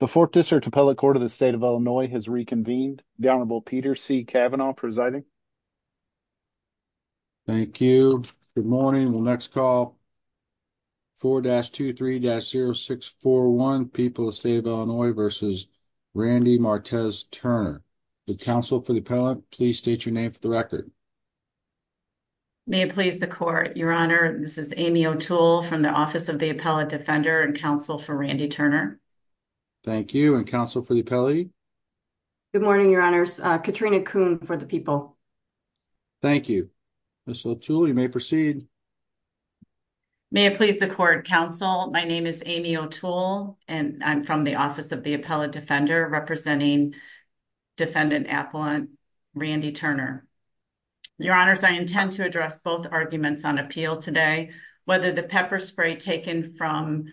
The 4th District Appellate Court of the State of Illinois has reconvened. The Honorable Peter C. Cavanaugh presiding. Thank you. Good morning. We'll next call 4-23-0641, People of the State of Illinois v. Randy Martez-Turner. The counsel for the appellant, please state your name for the record. May it please the court, Your Honor, this is Amy O'Toole from the Office of the Appellate Defender and counsel for Randy Turner. Thank you. And counsel for the appellate? Good morning, Your Honors. Katrina Kuhn for the People. Thank you. Ms. O'Toole, you may proceed. May it please the court, counsel, my name is Amy O'Toole and I'm from the Office of the Appellate Defender representing Defendant Appellant Randy Turner. Your Honors, I intend to address both arguments on appeal today, whether the pepper spray taken from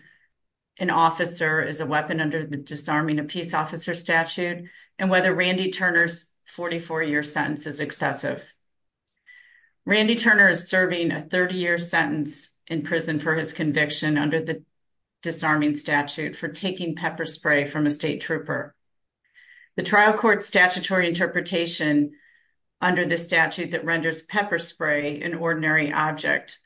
an officer is a weapon under the disarming a peace officer statute and whether Randy Turner's 44-year sentence is excessive. Randy Turner is serving a 30-year sentence in prison for his conviction under the disarming statute for taking pepper spray from a state trooper. The trial court's statutory interpretation under the statute that renders pepper spray an ordinary object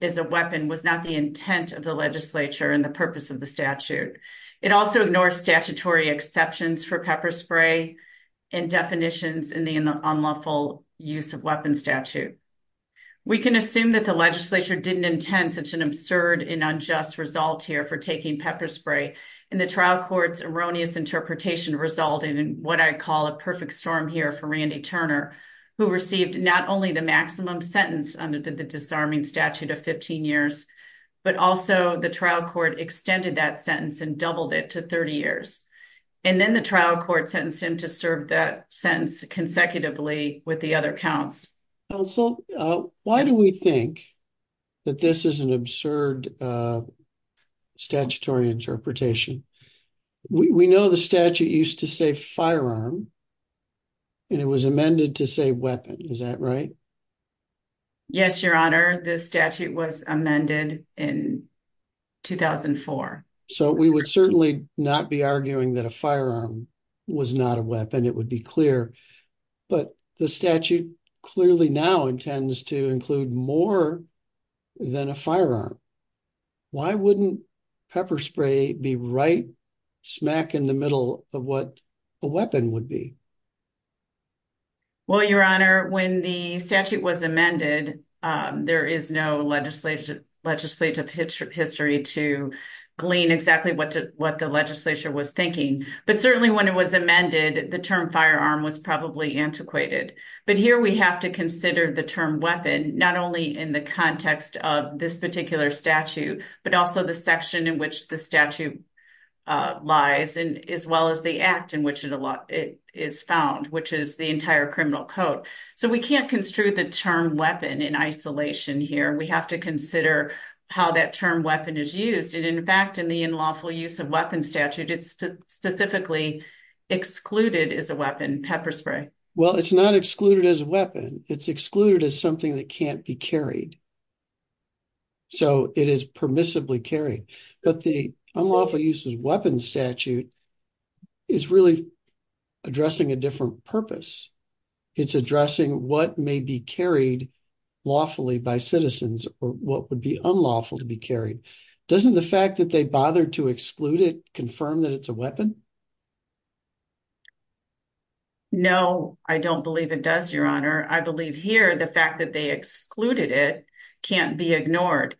as a weapon was not the intent of the legislature and the purpose of the statute. It also ignores statutory exceptions for pepper spray and definitions in the unlawful use of weapon statute. We can assume that the legislature didn't intend such an absurd and unjust result here for taking pepper spray and the trial court's erroneous interpretation resulting in what I call a perfect storm here for Randy Turner, who received not only the maximum sentence under the disarming statute of 15 years, but also the trial court extended that sentence and doubled it to 30 years. And then the trial court sentenced him to serve that sentence consecutively with the other counts. Well, why do we think that this is an absurd statutory interpretation? We know the statute used to say firearm and it was amended to say weapon. Is that right? Yes, Your Honor. The statute was amended in 2004. So we would certainly not be arguing that a firearm was not a weapon. It would be clear. But the statute clearly now intends to include more than a firearm. Why wouldn't pepper spray be right smack in the middle of what a weapon would be? Well, Your Honor, when the statute was amended, there is no legislative history to glean exactly what the legislature was thinking. But certainly when it was amended, the term firearm was probably antiquated. But here we have to consider the term weapon, not only in the context of this particular statute, but also the section in which the statute lies and as well as the act in which it is found, which is the entire criminal code. So we can't construe the term weapon in isolation here. We have to consider how that term weapon is used. And in fact, in the unlawful use of weapon statute, it's specifically excluded as a weapon pepper spray. Well, it's not excluded as a weapon. It's excluded as something that can't be carried. So it is permissibly carried. But the unlawful use of weapon statute is really addressing a different purpose. It's addressing what may be carried lawfully by citizens or what would be unlawful to be carried. Doesn't the fact that they bothered to exclude it confirm that it's a weapon? No, I don't believe it does, Your Honor. I believe here the fact that they excluded it can't be ignored.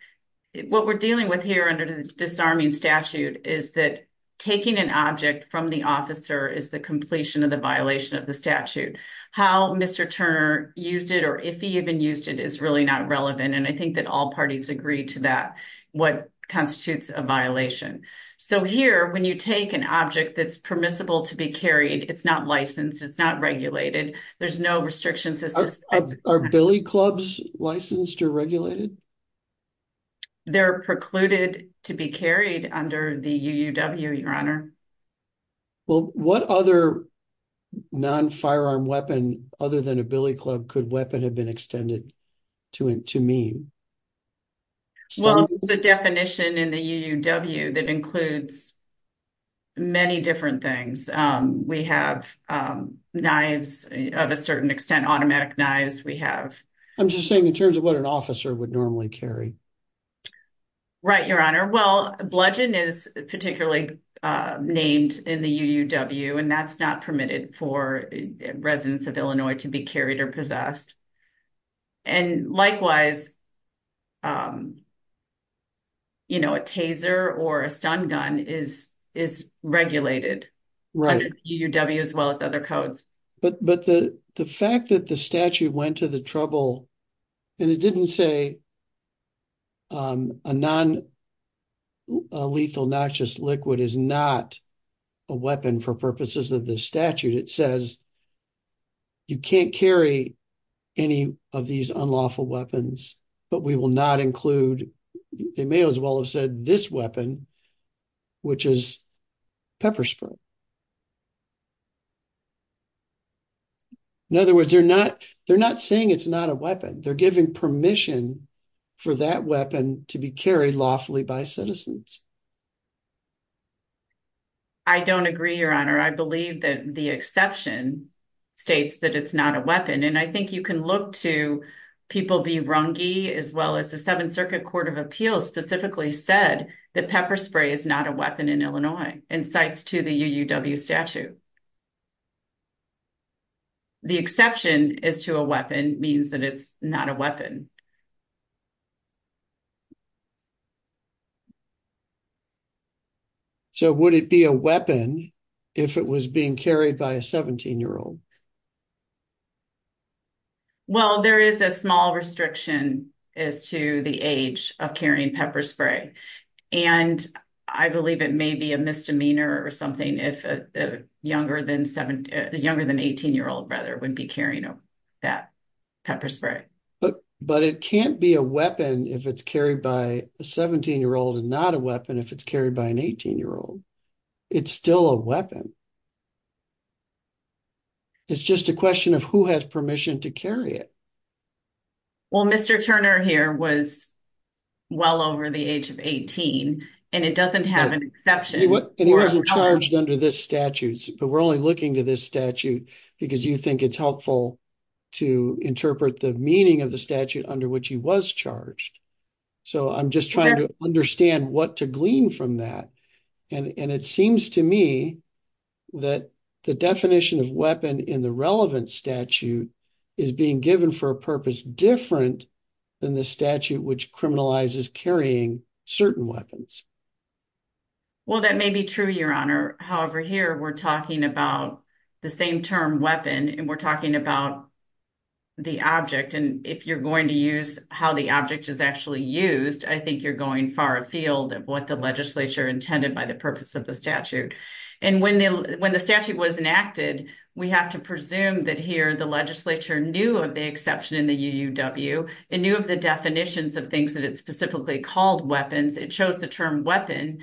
What we're dealing with here under the disarming statute is that taking an object from the officer is the completion of the violation of the statute. How Mr. Turner used it or if he even used it is really not relevant. And I think that all parties agree to that, what constitutes a violation. So here, when you take an object that's permissible to be carried, it's not licensed. It's not regulated. There's no restrictions. Are billy clubs licensed or regulated? They're precluded to be carried under the UUW, Your Honor. Well, what other non-firearm weapon other than a billy club could weapon have been extended to mean? Well, it's a definition in the UUW that includes many different things. We have knives of a certain extent, automatic knives. I'm just saying in terms of what an officer would normally carry. Right, Your Honor. Well, bludgeon is particularly named in the UUW and that's not permitted for residents of Illinois to be carried or possessed. And likewise, you know, a taser or a stun gun is regulated under UUW as well as other codes. But the fact that the statute went to the trouble and it didn't say a non-lethal noxious liquid is not a weapon for purposes of the statute. It says you can't carry any of these unlawful weapons, but we will not include, they may as well have said this weapon, which is pepper spray. In other words, they're not saying it's not a weapon. They're giving permission for that weapon to be carried lawfully by citizens. I don't agree, Your Honor. I believe that the exception states that it's not a weapon. And I think you can look to People v. Runge as well as the Seventh Circuit Court of Appeals specifically said that pepper spray is not a weapon in Illinois and cites to the UUW statute. The exception is to a weapon means that it's not a weapon. So would it be a weapon if it was being carried by a 17-year-old? Well, there is a small restriction as to the age of carrying pepper spray, and I believe it may be a misdemeanor or something if a younger than 18-year-old brother would be carrying that pepper spray. But it can't be a weapon if it's carried by a 17-year-old and not a weapon if it's carried by an 18-year-old. It's still a weapon. It's just a question of who has permission to carry it. Well, Mr. Turner here was well over the age of 18, and it doesn't have an exception. And he wasn't charged under this statute, but we're only looking to this statute because you think it's helpful to interpret the meaning of the statute under which he was charged. So I'm just trying to understand what to glean from that. And it seems to me that the definition of weapon in the relevant statute is being given for a purpose different than the statute which criminalizes carrying certain weapons. Well, that may be true, Your Honor. However, here we're talking about the same term, weapon, and we're talking about the object. And if you're going to use how the object is actually used, I think you're going far afield of what the legislature intended by the purpose of the statute. And when the statute was enacted, we have to presume that here the legislature knew of the exception in the UUW. It knew of the definitions of things that it specifically called weapons. It chose the term weapon,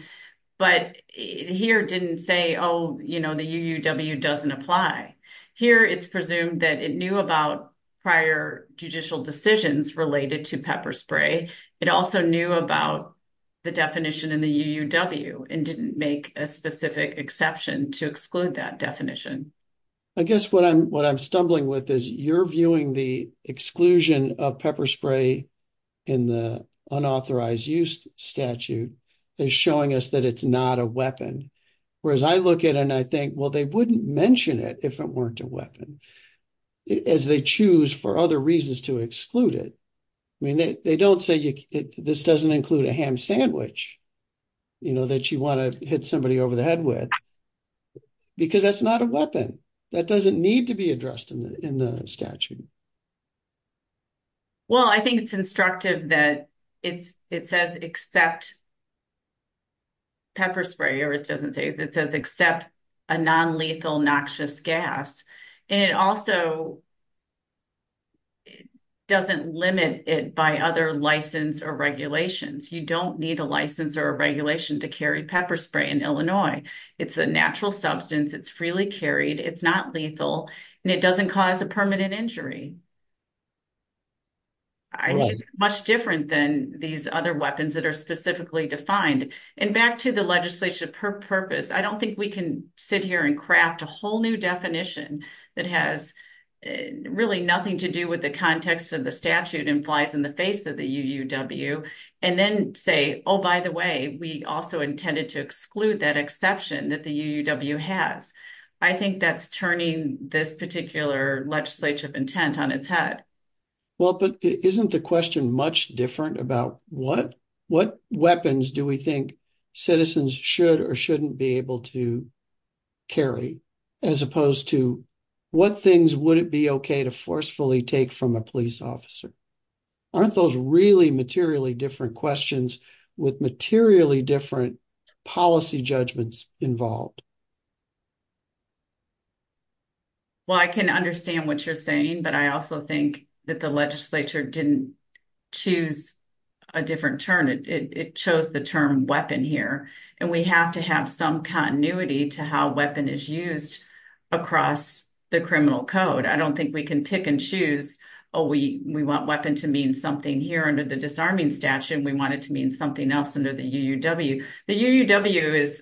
but here didn't say, oh, you know, the UUW doesn't apply. Here it's presumed that it knew about prior judicial decisions related to pepper spray. It also knew about the definition in the UUW and didn't make a specific exception to exclude that definition. I guess what I'm stumbling with is you're viewing the exclusion of pepper spray in the unauthorized use statute as showing us that it's not a weapon. Whereas I look at it and I think, well, they wouldn't mention it if it weren't a weapon, as they choose for other reasons to exclude it. I mean, they don't say this doesn't include a ham sandwich that you want to hit somebody over the head with, because that's not a weapon. That doesn't need to be addressed in the statute. Well, I think it's instructive that it says except pepper spray, or it doesn't say, it says except a non-lethal noxious gas. And it also doesn't limit it by other license or regulations. You don't need a license or a regulation to carry pepper spray in Illinois. It's a natural substance, it's freely carried, it's not lethal, and it doesn't cause a permanent injury. I think it's much different than these other weapons that are specifically defined. And back to the legislation purpose, I don't think we can sit here and craft a whole new definition that has really nothing to do with the context of the statute and flies in the face of the UUW. And then say, oh, by the way, we also intended to exclude that exception that the UUW has. I think that's turning this particular legislature of intent on its head. Well, but isn't the question much different about what weapons do we think citizens should or shouldn't be able to carry, as opposed to what things would it be okay to forcefully take from a police officer? Aren't those really materially different questions with materially different policy judgments involved? Well, I can understand what you're saying, but I also think that the legislature didn't choose a different term. It chose the term weapon here. And we have to have some continuity to how weapon is used across the criminal code. I don't think we can pick and choose, oh, we want weapon to mean something here under the disarming statute, and we want it to mean something else under the UUW. The UUW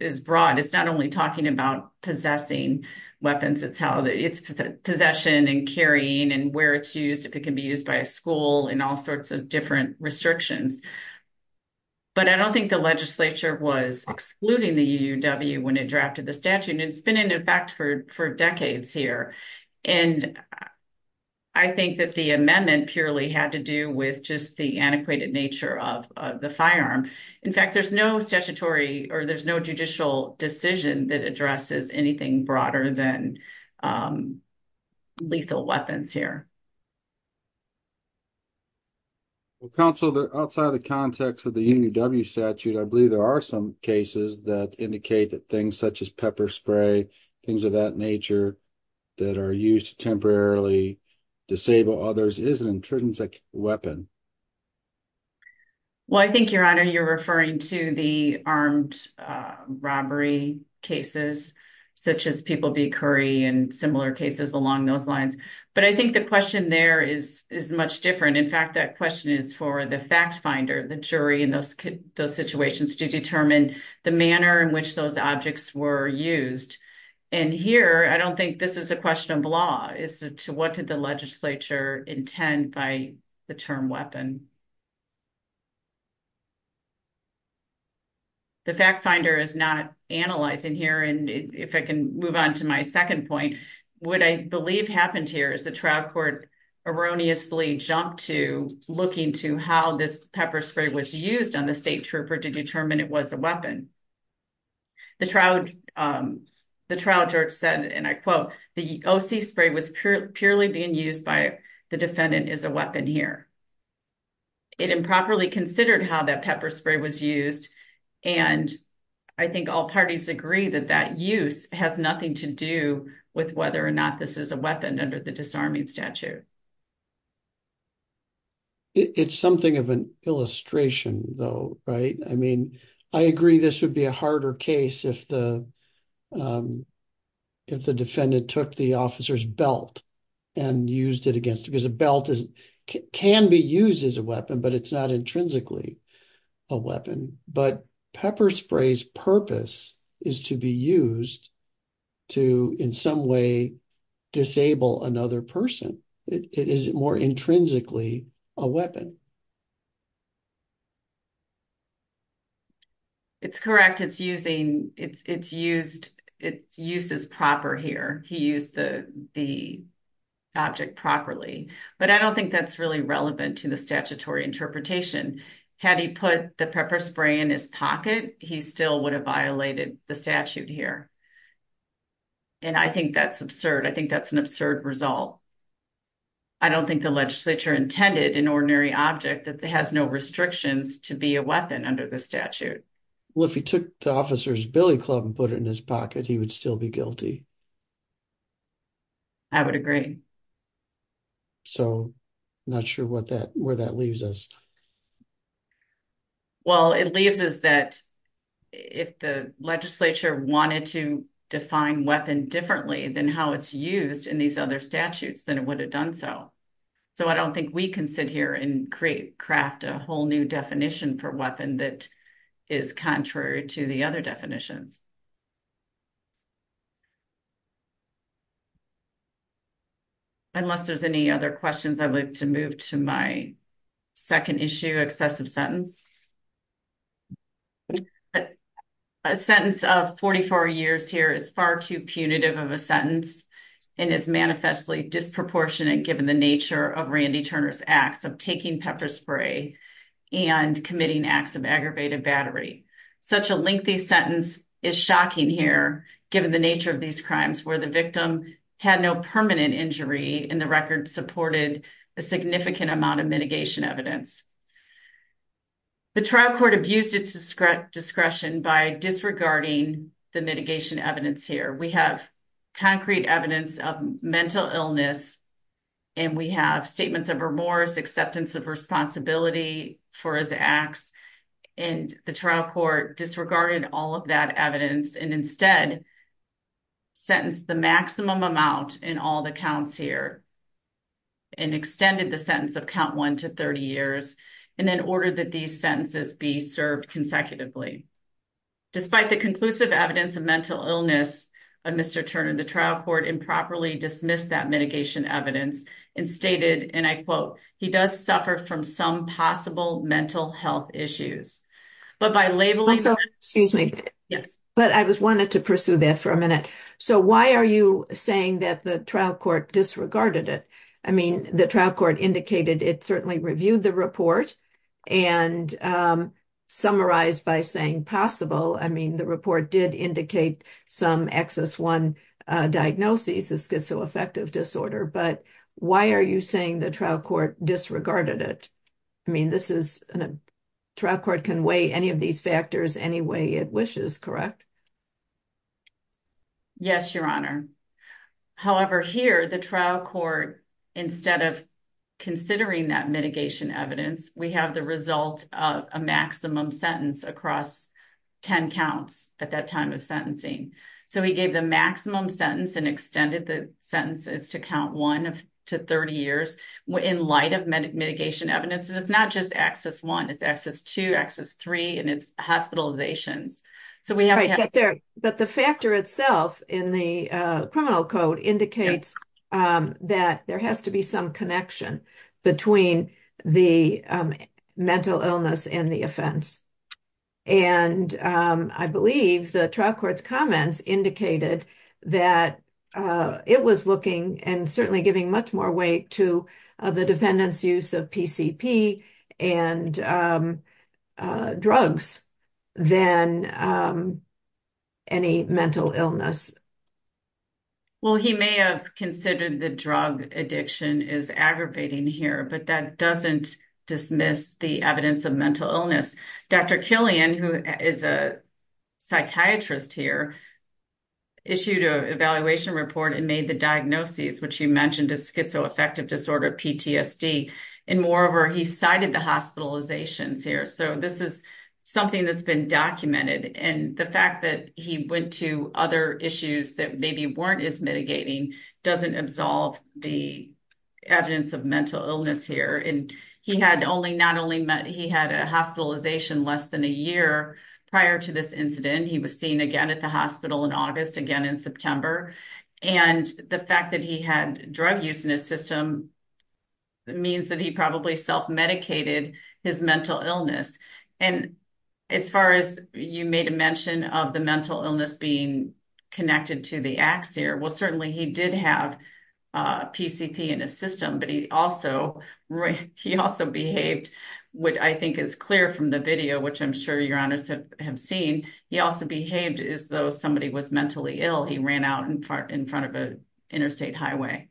is broad. It's not only talking about possessing weapons. It's possession and carrying and where it's used, if it can be used by a school, and all sorts of different restrictions. But I don't think the legislature was excluding the UUW when it drafted the statute, and it's been in effect for decades here. And I think that the amendment purely had to do with just the antiquated nature of the firearm. In fact, there's no statutory or there's no judicial decision that addresses anything broader than lethal weapons here. Well, counsel, outside of the context of the UUW statute, I believe there are some cases that indicate that things such as pepper spray, things of that nature that are used to temporarily disable others is an intrinsic weapon. Well, I think, Your Honor, you're referring to the armed robbery cases, such as People v. Curry and similar cases along those lines. But I think the question there is much different. In fact, that question is for the fact finder, the jury in those situations to determine the manner in which those objects were used. And here, I don't think this is a question of law, is to what did the legislature intend by the term weapon? The fact finder is not analyzing here. And if I can move on to my second point, what I believe happened here is the trial court erroneously jumped to looking to how this pepper spray was used on the state trooper to determine it was a weapon. The trial judge said, and I quote, the OC spray was purely being used by the defendant is a weapon here. It improperly considered how that pepper spray was used. And I think all parties agree that that use has nothing to do with whether or not this is a weapon under the disarming statute. It's something of an illustration, though, right? I mean, I agree this would be a harder case if the defendant took the officer's belt and used it against because a belt can be used as a weapon, but it's not intrinsically a weapon. But pepper spray's purpose is to be used to, in some way, disable another person. It is more intrinsically a weapon. It's correct. It's using, it's used, it's used as proper here. He used the, the object properly, but I don't think that's really relevant to the statutory interpretation. Had he put the pepper spray in his pocket, he still would have violated the statute here. And I think that's absurd. I think that's an absurd result. I don't think the legislature intended an ordinary object that has no restrictions to be a weapon under the statute. Well, if he took the officer's billy club and put it in his pocket, he would still be guilty. I would agree. So not sure what that, where that leaves us. Well, it leaves us that if the legislature wanted to define weapon differently than how it's used in these other statutes, then it would have done so. So I don't think we can sit here and create, craft a whole new definition for weapon that is contrary to the other definitions. Unless there's any other questions, I'd like to move to my second issue, excessive sentence. A sentence of 44 years here is far too punitive of a sentence and is manifestly disproportionate given the nature of Randy Turner's acts of taking pepper spray and committing acts of aggravated battery. Such a lengthy sentence is shocking here, given the nature of these crimes where the victim had no permanent injury and the record supported a significant amount of mitigation evidence. The trial court abused its discretion by disregarding the mitigation evidence here. We have concrete evidence of mental illness. And we have statements of remorse, acceptance of responsibility for his acts. And the trial court disregarded all of that evidence and instead sentenced the maximum amount in all the counts here. And extended the sentence of count 1 to 30 years and then ordered that these sentences be served consecutively. Despite the conclusive evidence of mental illness of Mr. Turner, the trial court improperly dismissed that mitigation evidence and stated, and I quote, he does suffer from some possible mental health issues, but by labeling. Excuse me, but I was wanted to pursue that for a minute. So why are you saying that the trial court disregarded it? I mean, the trial court indicated it certainly reviewed the report and summarize by saying possible. I mean, the report did indicate some XS1 diagnoses, schizoaffective disorder, but why are you saying the trial court disregarded it? I mean, this is a trial court can weigh any of these factors any way it wishes, correct? Yes, Your Honor. However, here the trial court, instead of considering that mitigation evidence, we have the result of a maximum sentence across 10 counts at that time of sentencing. So he gave the maximum sentence and extended the sentences to count 1 to 30 years in light of mitigation evidence. And it's not just XS1, it's XS2, XS3, and it's hospitalizations. But the factor itself in the criminal code indicates that there has to be some connection between the mental illness and the offense. And I believe the trial court's comments indicated that it was looking and certainly giving much more weight to the defendant's use of PCP and drugs than any mental illness. Well, he may have considered the drug addiction is aggravating here, but that doesn't dismiss the evidence of mental illness. Dr. Killian, who is a psychiatrist here, issued an evaluation report and made the diagnoses, which you mentioned is schizoaffective disorder, PTSD. And moreover, he cited the hospitalizations here. So this is something that's been documented. And the fact that he went to other issues that maybe weren't as mitigating doesn't absolve the evidence of mental illness here. And he had a hospitalization less than a year prior to this incident. He was seen again at the hospital in August, again in September. And the fact that he had drug use in his system means that he probably self-medicated his mental illness. And as far as you made a mention of the mental illness being connected to the axiar, well, certainly he did have PCP in his system, but he also behaved, which I think is clear from the video, which I'm sure your honors have seen, he also behaved as though somebody was mentally ill. He ran out in front of an interstate highway.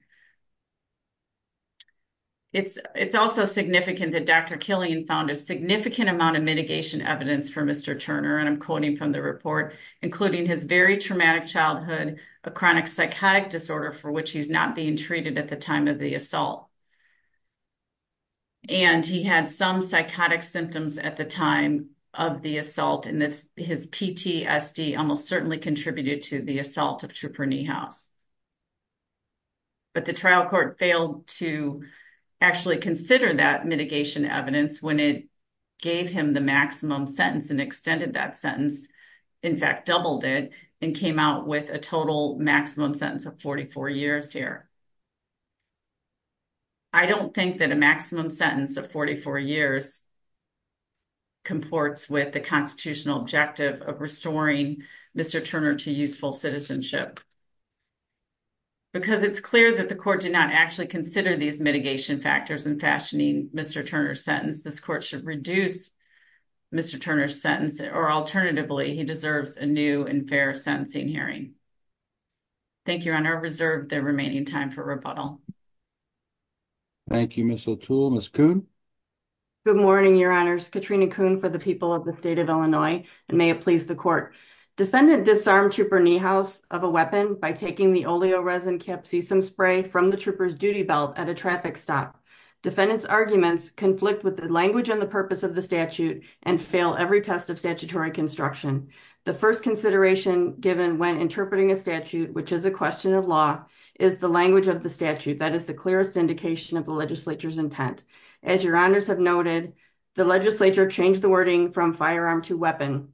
It's also significant that Dr. Killian found a significant amount of mitigation evidence for Mr. Turner, and I'm quoting from the report, including his very traumatic childhood, a chronic psychotic disorder for which he's not being treated at the time of the assault. And he had some psychotic symptoms at the time of the assault, and his PTSD almost certainly contributed to the assault of Trooper Niehaus. But the trial court failed to actually consider that mitigation evidence when it gave him the maximum sentence and extended that sentence, in fact doubled it, and came out with a total maximum sentence of 44 years here. I don't think that a maximum sentence of 44 years comports with the constitutional objective of restoring Mr. Turner to useful citizenship. Because it's clear that the court did not actually consider these mitigation factors in fashioning Mr. Turner's sentence. This court should reduce Mr. Turner's sentence, or alternatively, he deserves a new and fair sentencing hearing. Thank you, Your Honor. I reserve the remaining time for rebuttal. Thank you, Ms. O'Toole. Ms. Kuhn? Good morning, Your Honors. Katrina Kuhn for the people of the state of Illinois, and may it please the court. Defendant disarmed Trooper Niehaus of a weapon by taking the oleoresin capsizum spray from the trooper's duty belt at a traffic stop. Defendant's arguments conflict with the language and the purpose of the statute and fail every test of statutory construction. The first consideration given when interpreting a statute, which is a question of law, is the language of the statute. That is the clearest indication of the legislature's intent. As Your Honors have noted, the legislature changed the wording from firearm to weapon.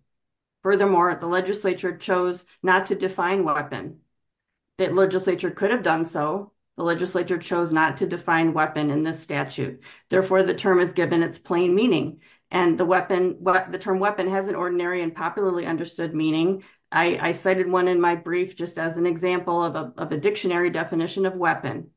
Furthermore, the legislature chose not to define weapon. The legislature could have done so. The legislature chose not to define weapon in this statute. Therefore, the term is given its plain meaning, and the term weapon has an ordinary and popularly understood meaning. I cited one in my brief just as an example of a dictionary definition of weapon.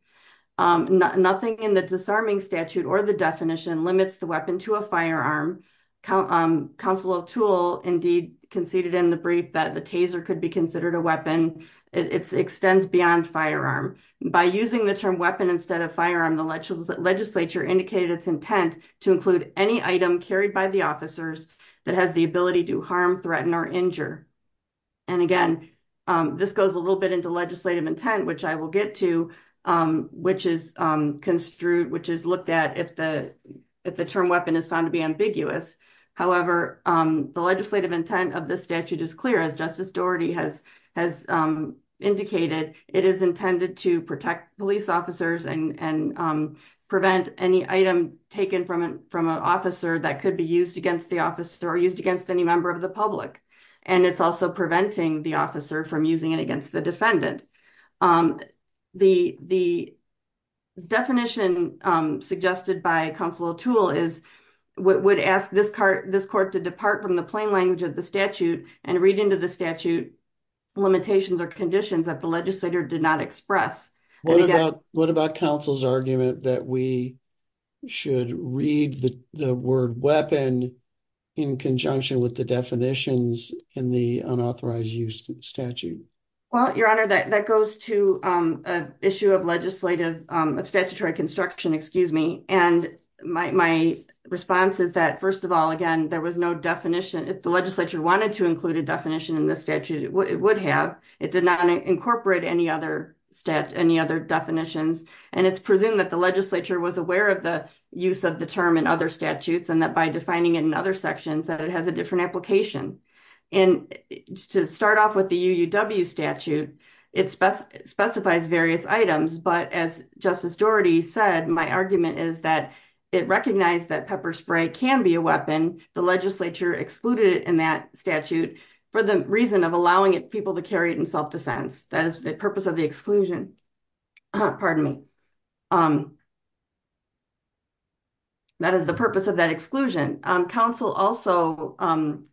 Nothing in the disarming statute or the definition limits the weapon to a firearm. Counsel O'Toole indeed conceded in the brief that the taser could be considered a weapon. It extends beyond firearm. By using the term weapon instead of firearm, the legislature indicated its intent to include any item carried by the officers that has the ability to harm, threaten, or injure. And again, this goes a little bit into legislative intent, which I will get to, which is looked at if the term weapon is found to be ambiguous. However, the legislative intent of this statute is clear. As Justice Doherty has indicated, it is intended to protect police officers and prevent any item taken from an officer that could be used against the officer or used against any member of the public. And it's also preventing the officer from using it against the defendant. The definition suggested by Counsel O'Toole is, would ask this court to depart from the plain language of the statute and read into the statute limitations or conditions that the legislator did not express. What about counsel's argument that we should read the word weapon in conjunction with the definitions in the unauthorized use statute? Well, Your Honor, that goes to an issue of statutory construction. And my response is that, first of all, again, there was no definition. If the legislature wanted to include a definition in the statute, it would have. It did not incorporate any other definitions. And it's presumed that the legislature was aware of the use of the term in other statutes and that by defining it in other sections, that it has a different application. And to start off with the UUW statute, it specifies various items. But as Justice Doherty said, my argument is that it recognized that pepper spray can be a weapon. The legislature excluded it in that statute for the reason of allowing people to carry it in self-defense. That is the purpose of the exclusion. Pardon me. That is the purpose of that exclusion. Counsel also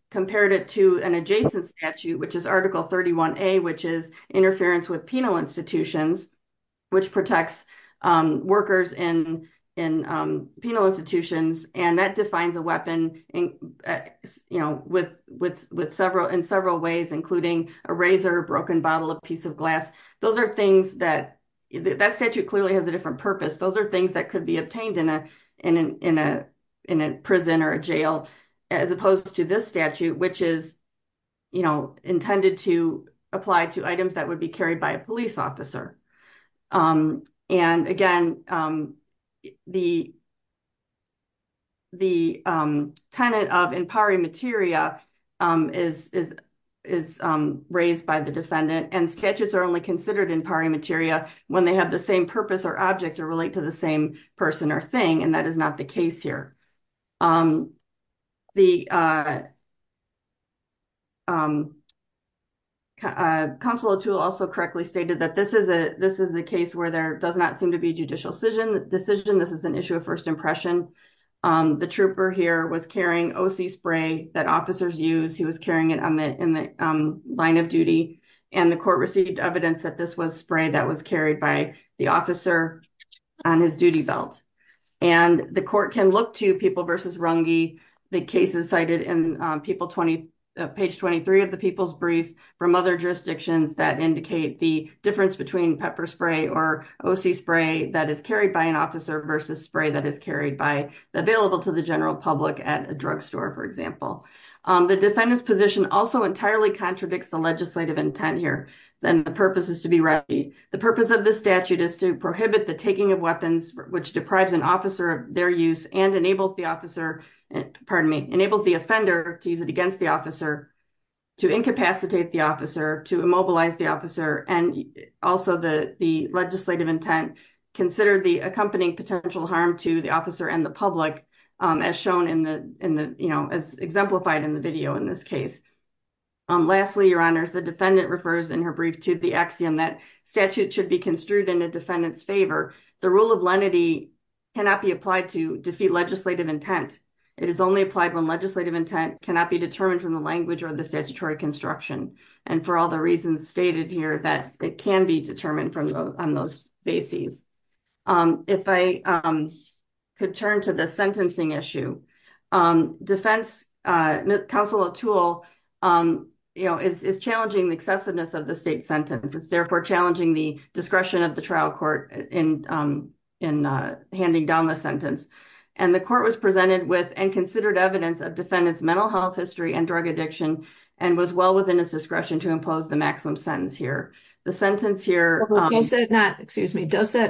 compared it to an adjacent statute, which is Article 31A, which is interference with penal institutions, which protects workers in penal institutions. And that defines a weapon in several ways, including a razor, a broken bottle, a piece of glass. That statute clearly has a different purpose. Those are things that could be obtained in a prison or a jail, as opposed to this statute, which is intended to apply to items that would be carried by a police officer. And again, the tenant of in pari materia is raised by the defendant and statutes are only considered in pari materia when they have the same purpose or object or relate to the same person or thing. And that is not the case here. Counsel Atul also correctly stated that this is a case where there does not seem to be a judicial decision. This is an issue of first impression. The trooper here was carrying O.C. spray that officers use. He was carrying it in the line of duty and the court received evidence that this was spray that was carried by the officer on his duty belt. And the court can look to People v. Runge, the cases cited in Page 23 of the People's Brief from other jurisdictions that indicate the difference between pepper spray or O.C. spray that is carried by an officer versus spray that is carried by available to the general public at a drugstore, for example. The defendant's position also entirely contradicts the legislative intent here. The purpose of the statute is to prohibit the taking of weapons which deprives an officer of their use and enables the offender to use it against the officer, to incapacitate the officer, to immobilize the officer, and also the legislative intent. The defendant referred in her brief to the axiom that statute should be construed in a defendant's favor. The rule of lenity cannot be applied to defeat legislative intent. It is only applied when legislative intent cannot be determined from the language or the statutory construction. And for all the reasons stated here that it can be determined on those bases. If I could turn to the sentencing issue, defense counsel Atul is challenging the excessiveness of the state sentence. It's therefore challenging the discretion of the trial court in handing down the sentence. And the court was presented with and considered evidence of defendant's mental health history and drug addiction and was well within its discretion to impose the maximum sentence here. Does that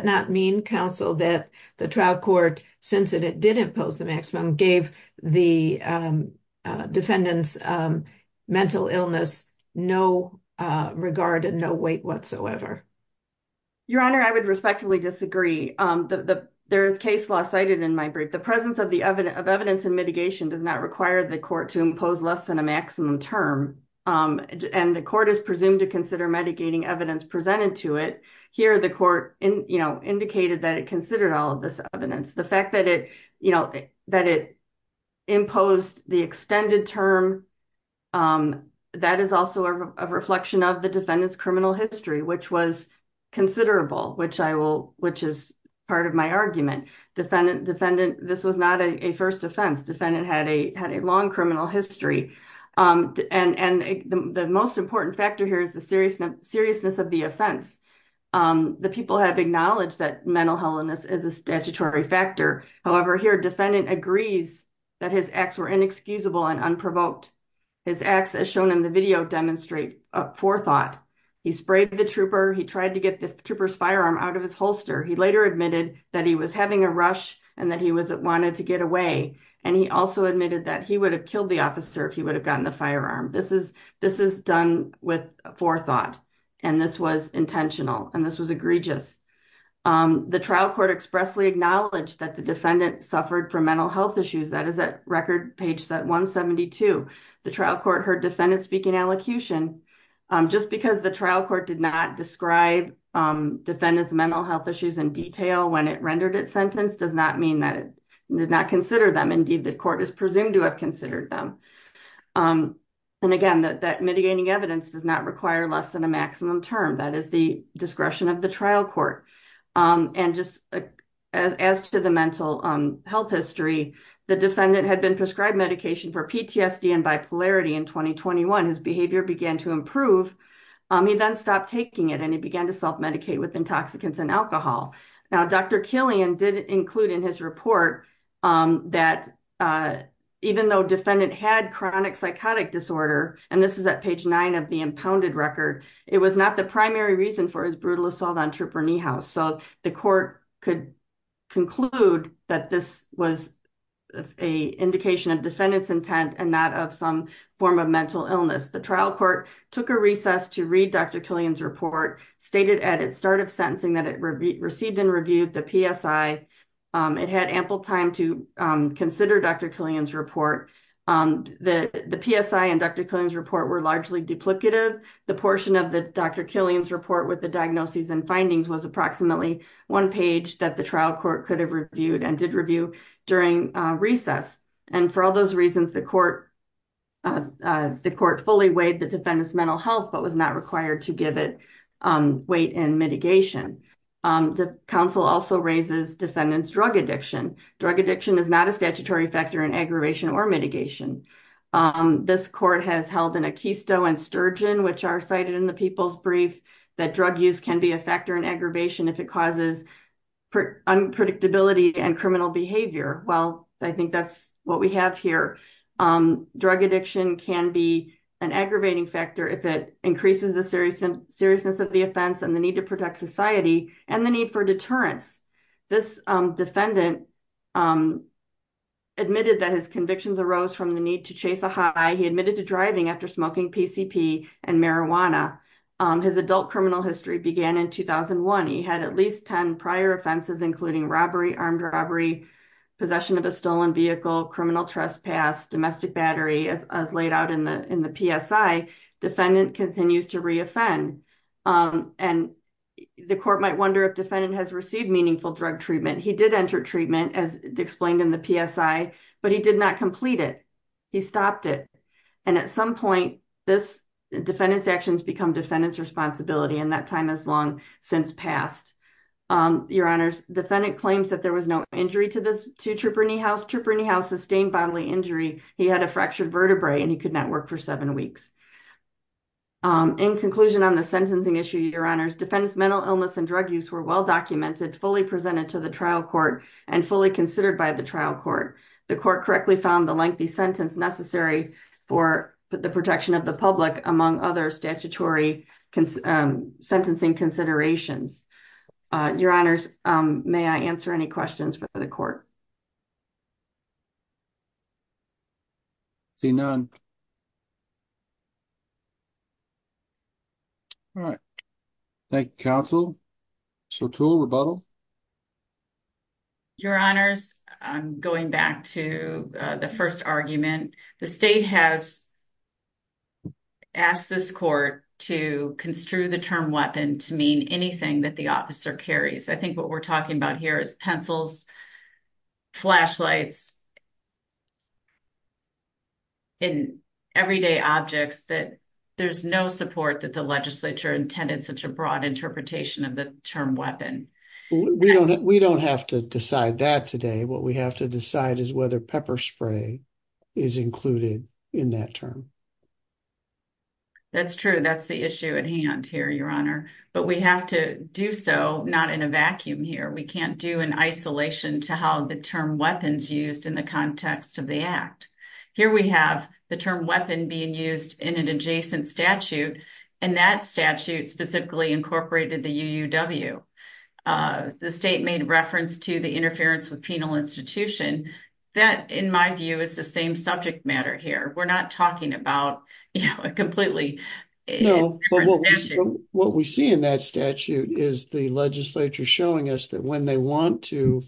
not mean, counsel, that the trial court, since it did impose the maximum, gave the defendant's mental illness no regard and no weight whatsoever? Your Honor, I would respectfully disagree. There is case law cited in my brief. The presence of evidence and mitigation does not require the court to impose less than a maximum term. And the court is presumed to consider mitigating evidence presented to it. Here, the court indicated that it considered all of this evidence. The fact that it imposed the extended term, that is also a reflection of the defendant's criminal history, which was considerable, which is part of my argument. Defendant, this was not a first offense. Defendant had a long criminal history. And the most important factor here is the seriousness of the offense. The people have acknowledged that mental health is a statutory factor. However, here, defendant agrees that his acts were inexcusable and unprovoked. His acts, as shown in the video, demonstrate forethought. He sprayed the trooper. He tried to get the trooper's firearm out of his holster. He later admitted that he was having a rush and that he wanted to get away. And he also admitted that he would have killed the officer if he would have gotten the firearm. This is done with forethought. And this was intentional and this was egregious. The trial court expressly acknowledged that the defendant suffered from mental health issues. That is at record page 172. The trial court heard defendant speaking allocution. Just because the trial court did not describe defendant's mental health issues in detail when it rendered its sentence does not mean that it did not consider them. Indeed, the court is presumed to have considered them. And again, that mitigating evidence does not require less than a maximum term. That is the discretion of the trial court. And just as to the mental health history, the defendant had been prescribed medication for PTSD and bipolarity in 2021. His behavior began to improve. He then stopped taking it and he began to self-medicate with intoxicants and alcohol. Now, Dr. Killian did include in his report that even though defendant had chronic psychotic disorder, and this is at page nine of the impounded record, it was not the primary reason for his brutal assault on Trooper Niehaus. So the court could conclude that this was an indication of defendant's intent and not of some form of mental illness. The trial court took a recess to read Dr. Killian's report, stated at its start of sentencing that it received and reviewed the PSI. It had ample time to consider Dr. Killian's report. The PSI and Dr. Killian's report were largely duplicative. The portion of the Dr. Killian's report with the diagnoses and findings was approximately one page that the trial court could have reviewed and did review during recess. And for all those reasons, the court fully weighed the defendant's mental health, but was not required to give it weight and mitigation. The council also raises defendant's drug addiction. Drug addiction is not a statutory factor in aggravation or mitigation. This court has held an Akisto and Sturgeon, which are cited in the people's brief, that drug use can be a factor in aggravation if it causes unpredictability and criminal behavior. Well, I think that's what we have here. Drug addiction can be an aggravating factor if it increases the seriousness of the offense and the need to protect society and the need for deterrence. This defendant admitted that his convictions arose from the need to chase a high. He admitted to driving after smoking PCP and marijuana. His adult criminal history began in 2001. He had at least 10 prior offenses, including robbery, armed robbery, possession of a stolen vehicle, criminal trespass, domestic battery, as laid out in the PSI. Defendant continues to reoffend. And the court might wonder if defendant has received meaningful drug treatment. He did enter treatment as explained in the PSI, but he did not complete it. He stopped it. And at some point, this defendant's actions become defendant's responsibility. And that time has long since passed. Your Honors, defendant claims that there was no injury to this to Trooper Nehouse. Trooper Nehouse sustained bodily injury. He had a fractured vertebrae and he could not work for seven weeks. In conclusion on the sentencing issue, Your Honors, defendant's mental illness and drug use were well documented, fully presented to the trial court and fully considered by the trial court. The court correctly found the lengthy sentence necessary for the protection of the public, among other statutory sentencing considerations. Your Honors, may I answer any questions for the court? Seeing none. All right. Thank you, counsel. Chortul, rebuttal. Your Honors, going back to the first argument, the state has asked this court to construe the term weapon to mean anything that the officer carries. I think what we're talking about here is pencils, flashlights, and everyday objects that there's no support that the legislature intended such a broad interpretation of the term weapon. We don't have to decide that today. What we have to decide is whether pepper spray is included in that term. That's true. That's the issue at hand here, Your Honor. But we have to do so not in a vacuum here. We can't do an isolation to how the term weapons used in the context of the act. Here we have the term weapon being used in an adjacent statute, and that statute specifically incorporated the UUW. The state made reference to the interference with penal institution. That, in my view, is the same subject matter here. We're not talking about a completely different statute. What we see in that statute is the legislature showing us that when they want to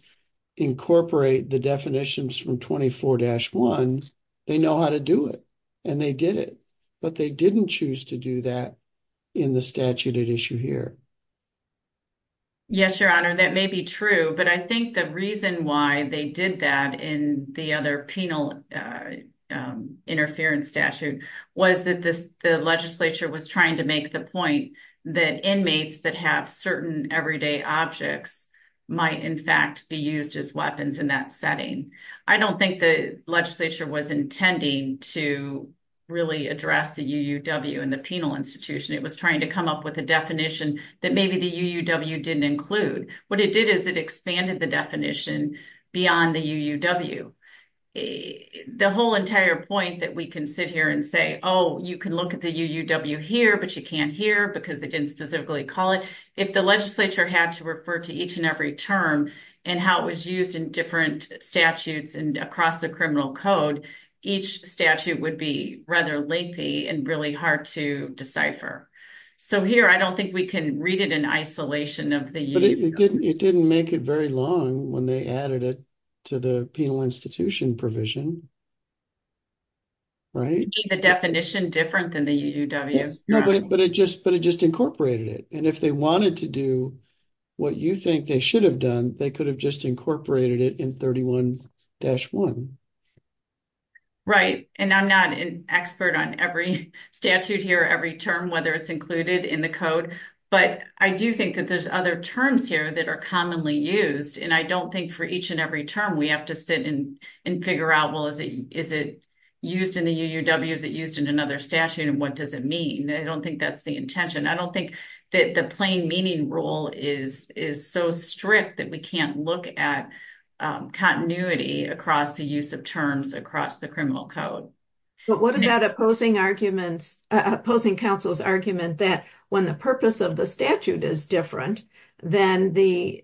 incorporate the definitions from 24-1, they know how to do it, and they did it. But they didn't choose to do that in the statute at issue here. Yes, Your Honor, that may be true, but I think the reason why they did that in the other penal interference statute was that the legislature was trying to make the point that inmates that have certain everyday objects might, in fact, be used as weapons in that setting. I don't think the legislature was intending to really address the UUW in the penal institution. It was trying to come up with a definition that maybe the UUW didn't include. What it did is it expanded the definition beyond the UUW. The whole entire point that we can sit here and say, oh, you can look at the UUW here, but you can't here because they didn't specifically call it. If the legislature had to refer to each and every term and how it was used in different statutes and across the criminal code, each statute would be rather lengthy and really hard to decipher. So here, I don't think we can read it in isolation of the UUW. But it didn't make it very long when they added it to the penal institution provision, right? The definition different than the UUW. But it just incorporated it, and if they wanted to do what you think they should have done, they could have just incorporated it in 31-1. Right. And I'm not an expert on every statute here, every term, whether it's included in the code. But I do think that there's other terms here that are commonly used, and I don't think for each and every term we have to sit and figure out, well, is it used in the UUW? Is it used in another statute, and what does it mean? I don't think that's the intention. I don't think that the plain meaning rule is so strict that we can't look at continuity across the use of terms across the criminal code. But what about opposing arguments, opposing counsel's argument that when the purpose of the statute is different, then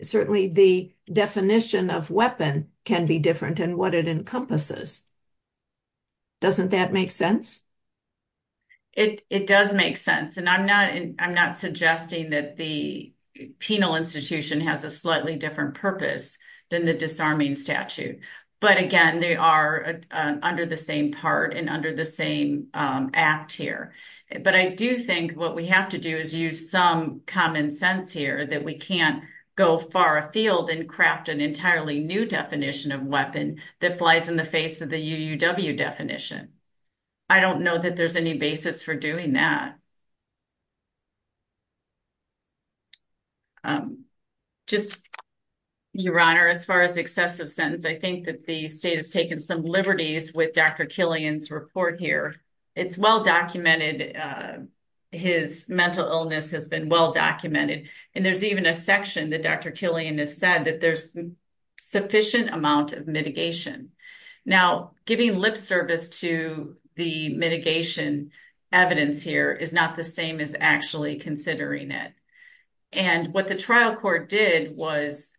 certainly the definition of weapon can be different in what it encompasses? Doesn't that make sense? It does make sense, and I'm not suggesting that the penal institution has a slightly different purpose than the disarming statute. But, again, they are under the same part and under the same act here. But I do think what we have to do is use some common sense here that we can't go far afield and craft an entirely new definition of weapon that flies in the face of the UUW definition. I don't know that there's any basis for doing that. Just, Your Honor, as far as excessive sentence, I think that the state has taken some liberties with Dr. Killian's report here. It's well documented. His mental illness has been well documented, and there's even a section that Dr. Killian has said that there's sufficient amount of mitigation. Now, giving lip service to the mitigation evidence here is not the same as actually considering it. And what the trial court did was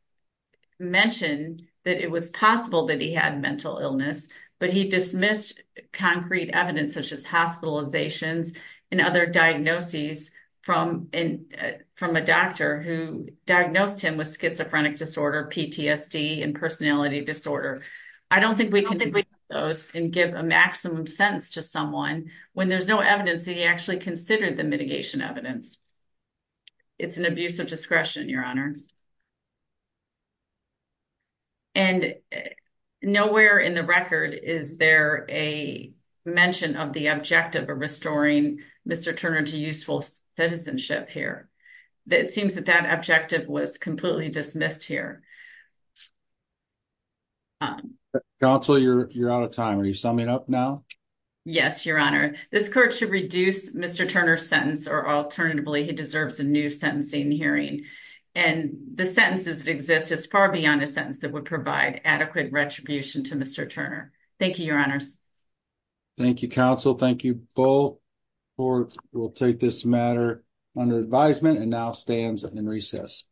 mention that it was possible that he had mental illness, but he dismissed concrete evidence such as hospitalizations and other diagnoses from a doctor who diagnosed him with schizophrenic disorder, PTSD, and personality disorder. I don't think we can give a maximum sentence to someone when there's no evidence that he actually considered the mitigation evidence. It's an abuse of discretion, Your Honor. And nowhere in the record is there a mention of the objective of restoring Mr. Turner to useful citizenship here. It seems that that objective was completely dismissed here. Counsel, you're out of time. Are you summing up now? Yes, Your Honor. This court should reduce Mr. Turner's sentence, or alternatively, he deserves a new sentencing hearing. And the sentences that exist is far beyond a sentence that would provide adequate retribution to Mr. Turner. Thank you, Your Honors. Thank you, Counsel. Thank you both. The court will take this matter under advisement and now stands in recess.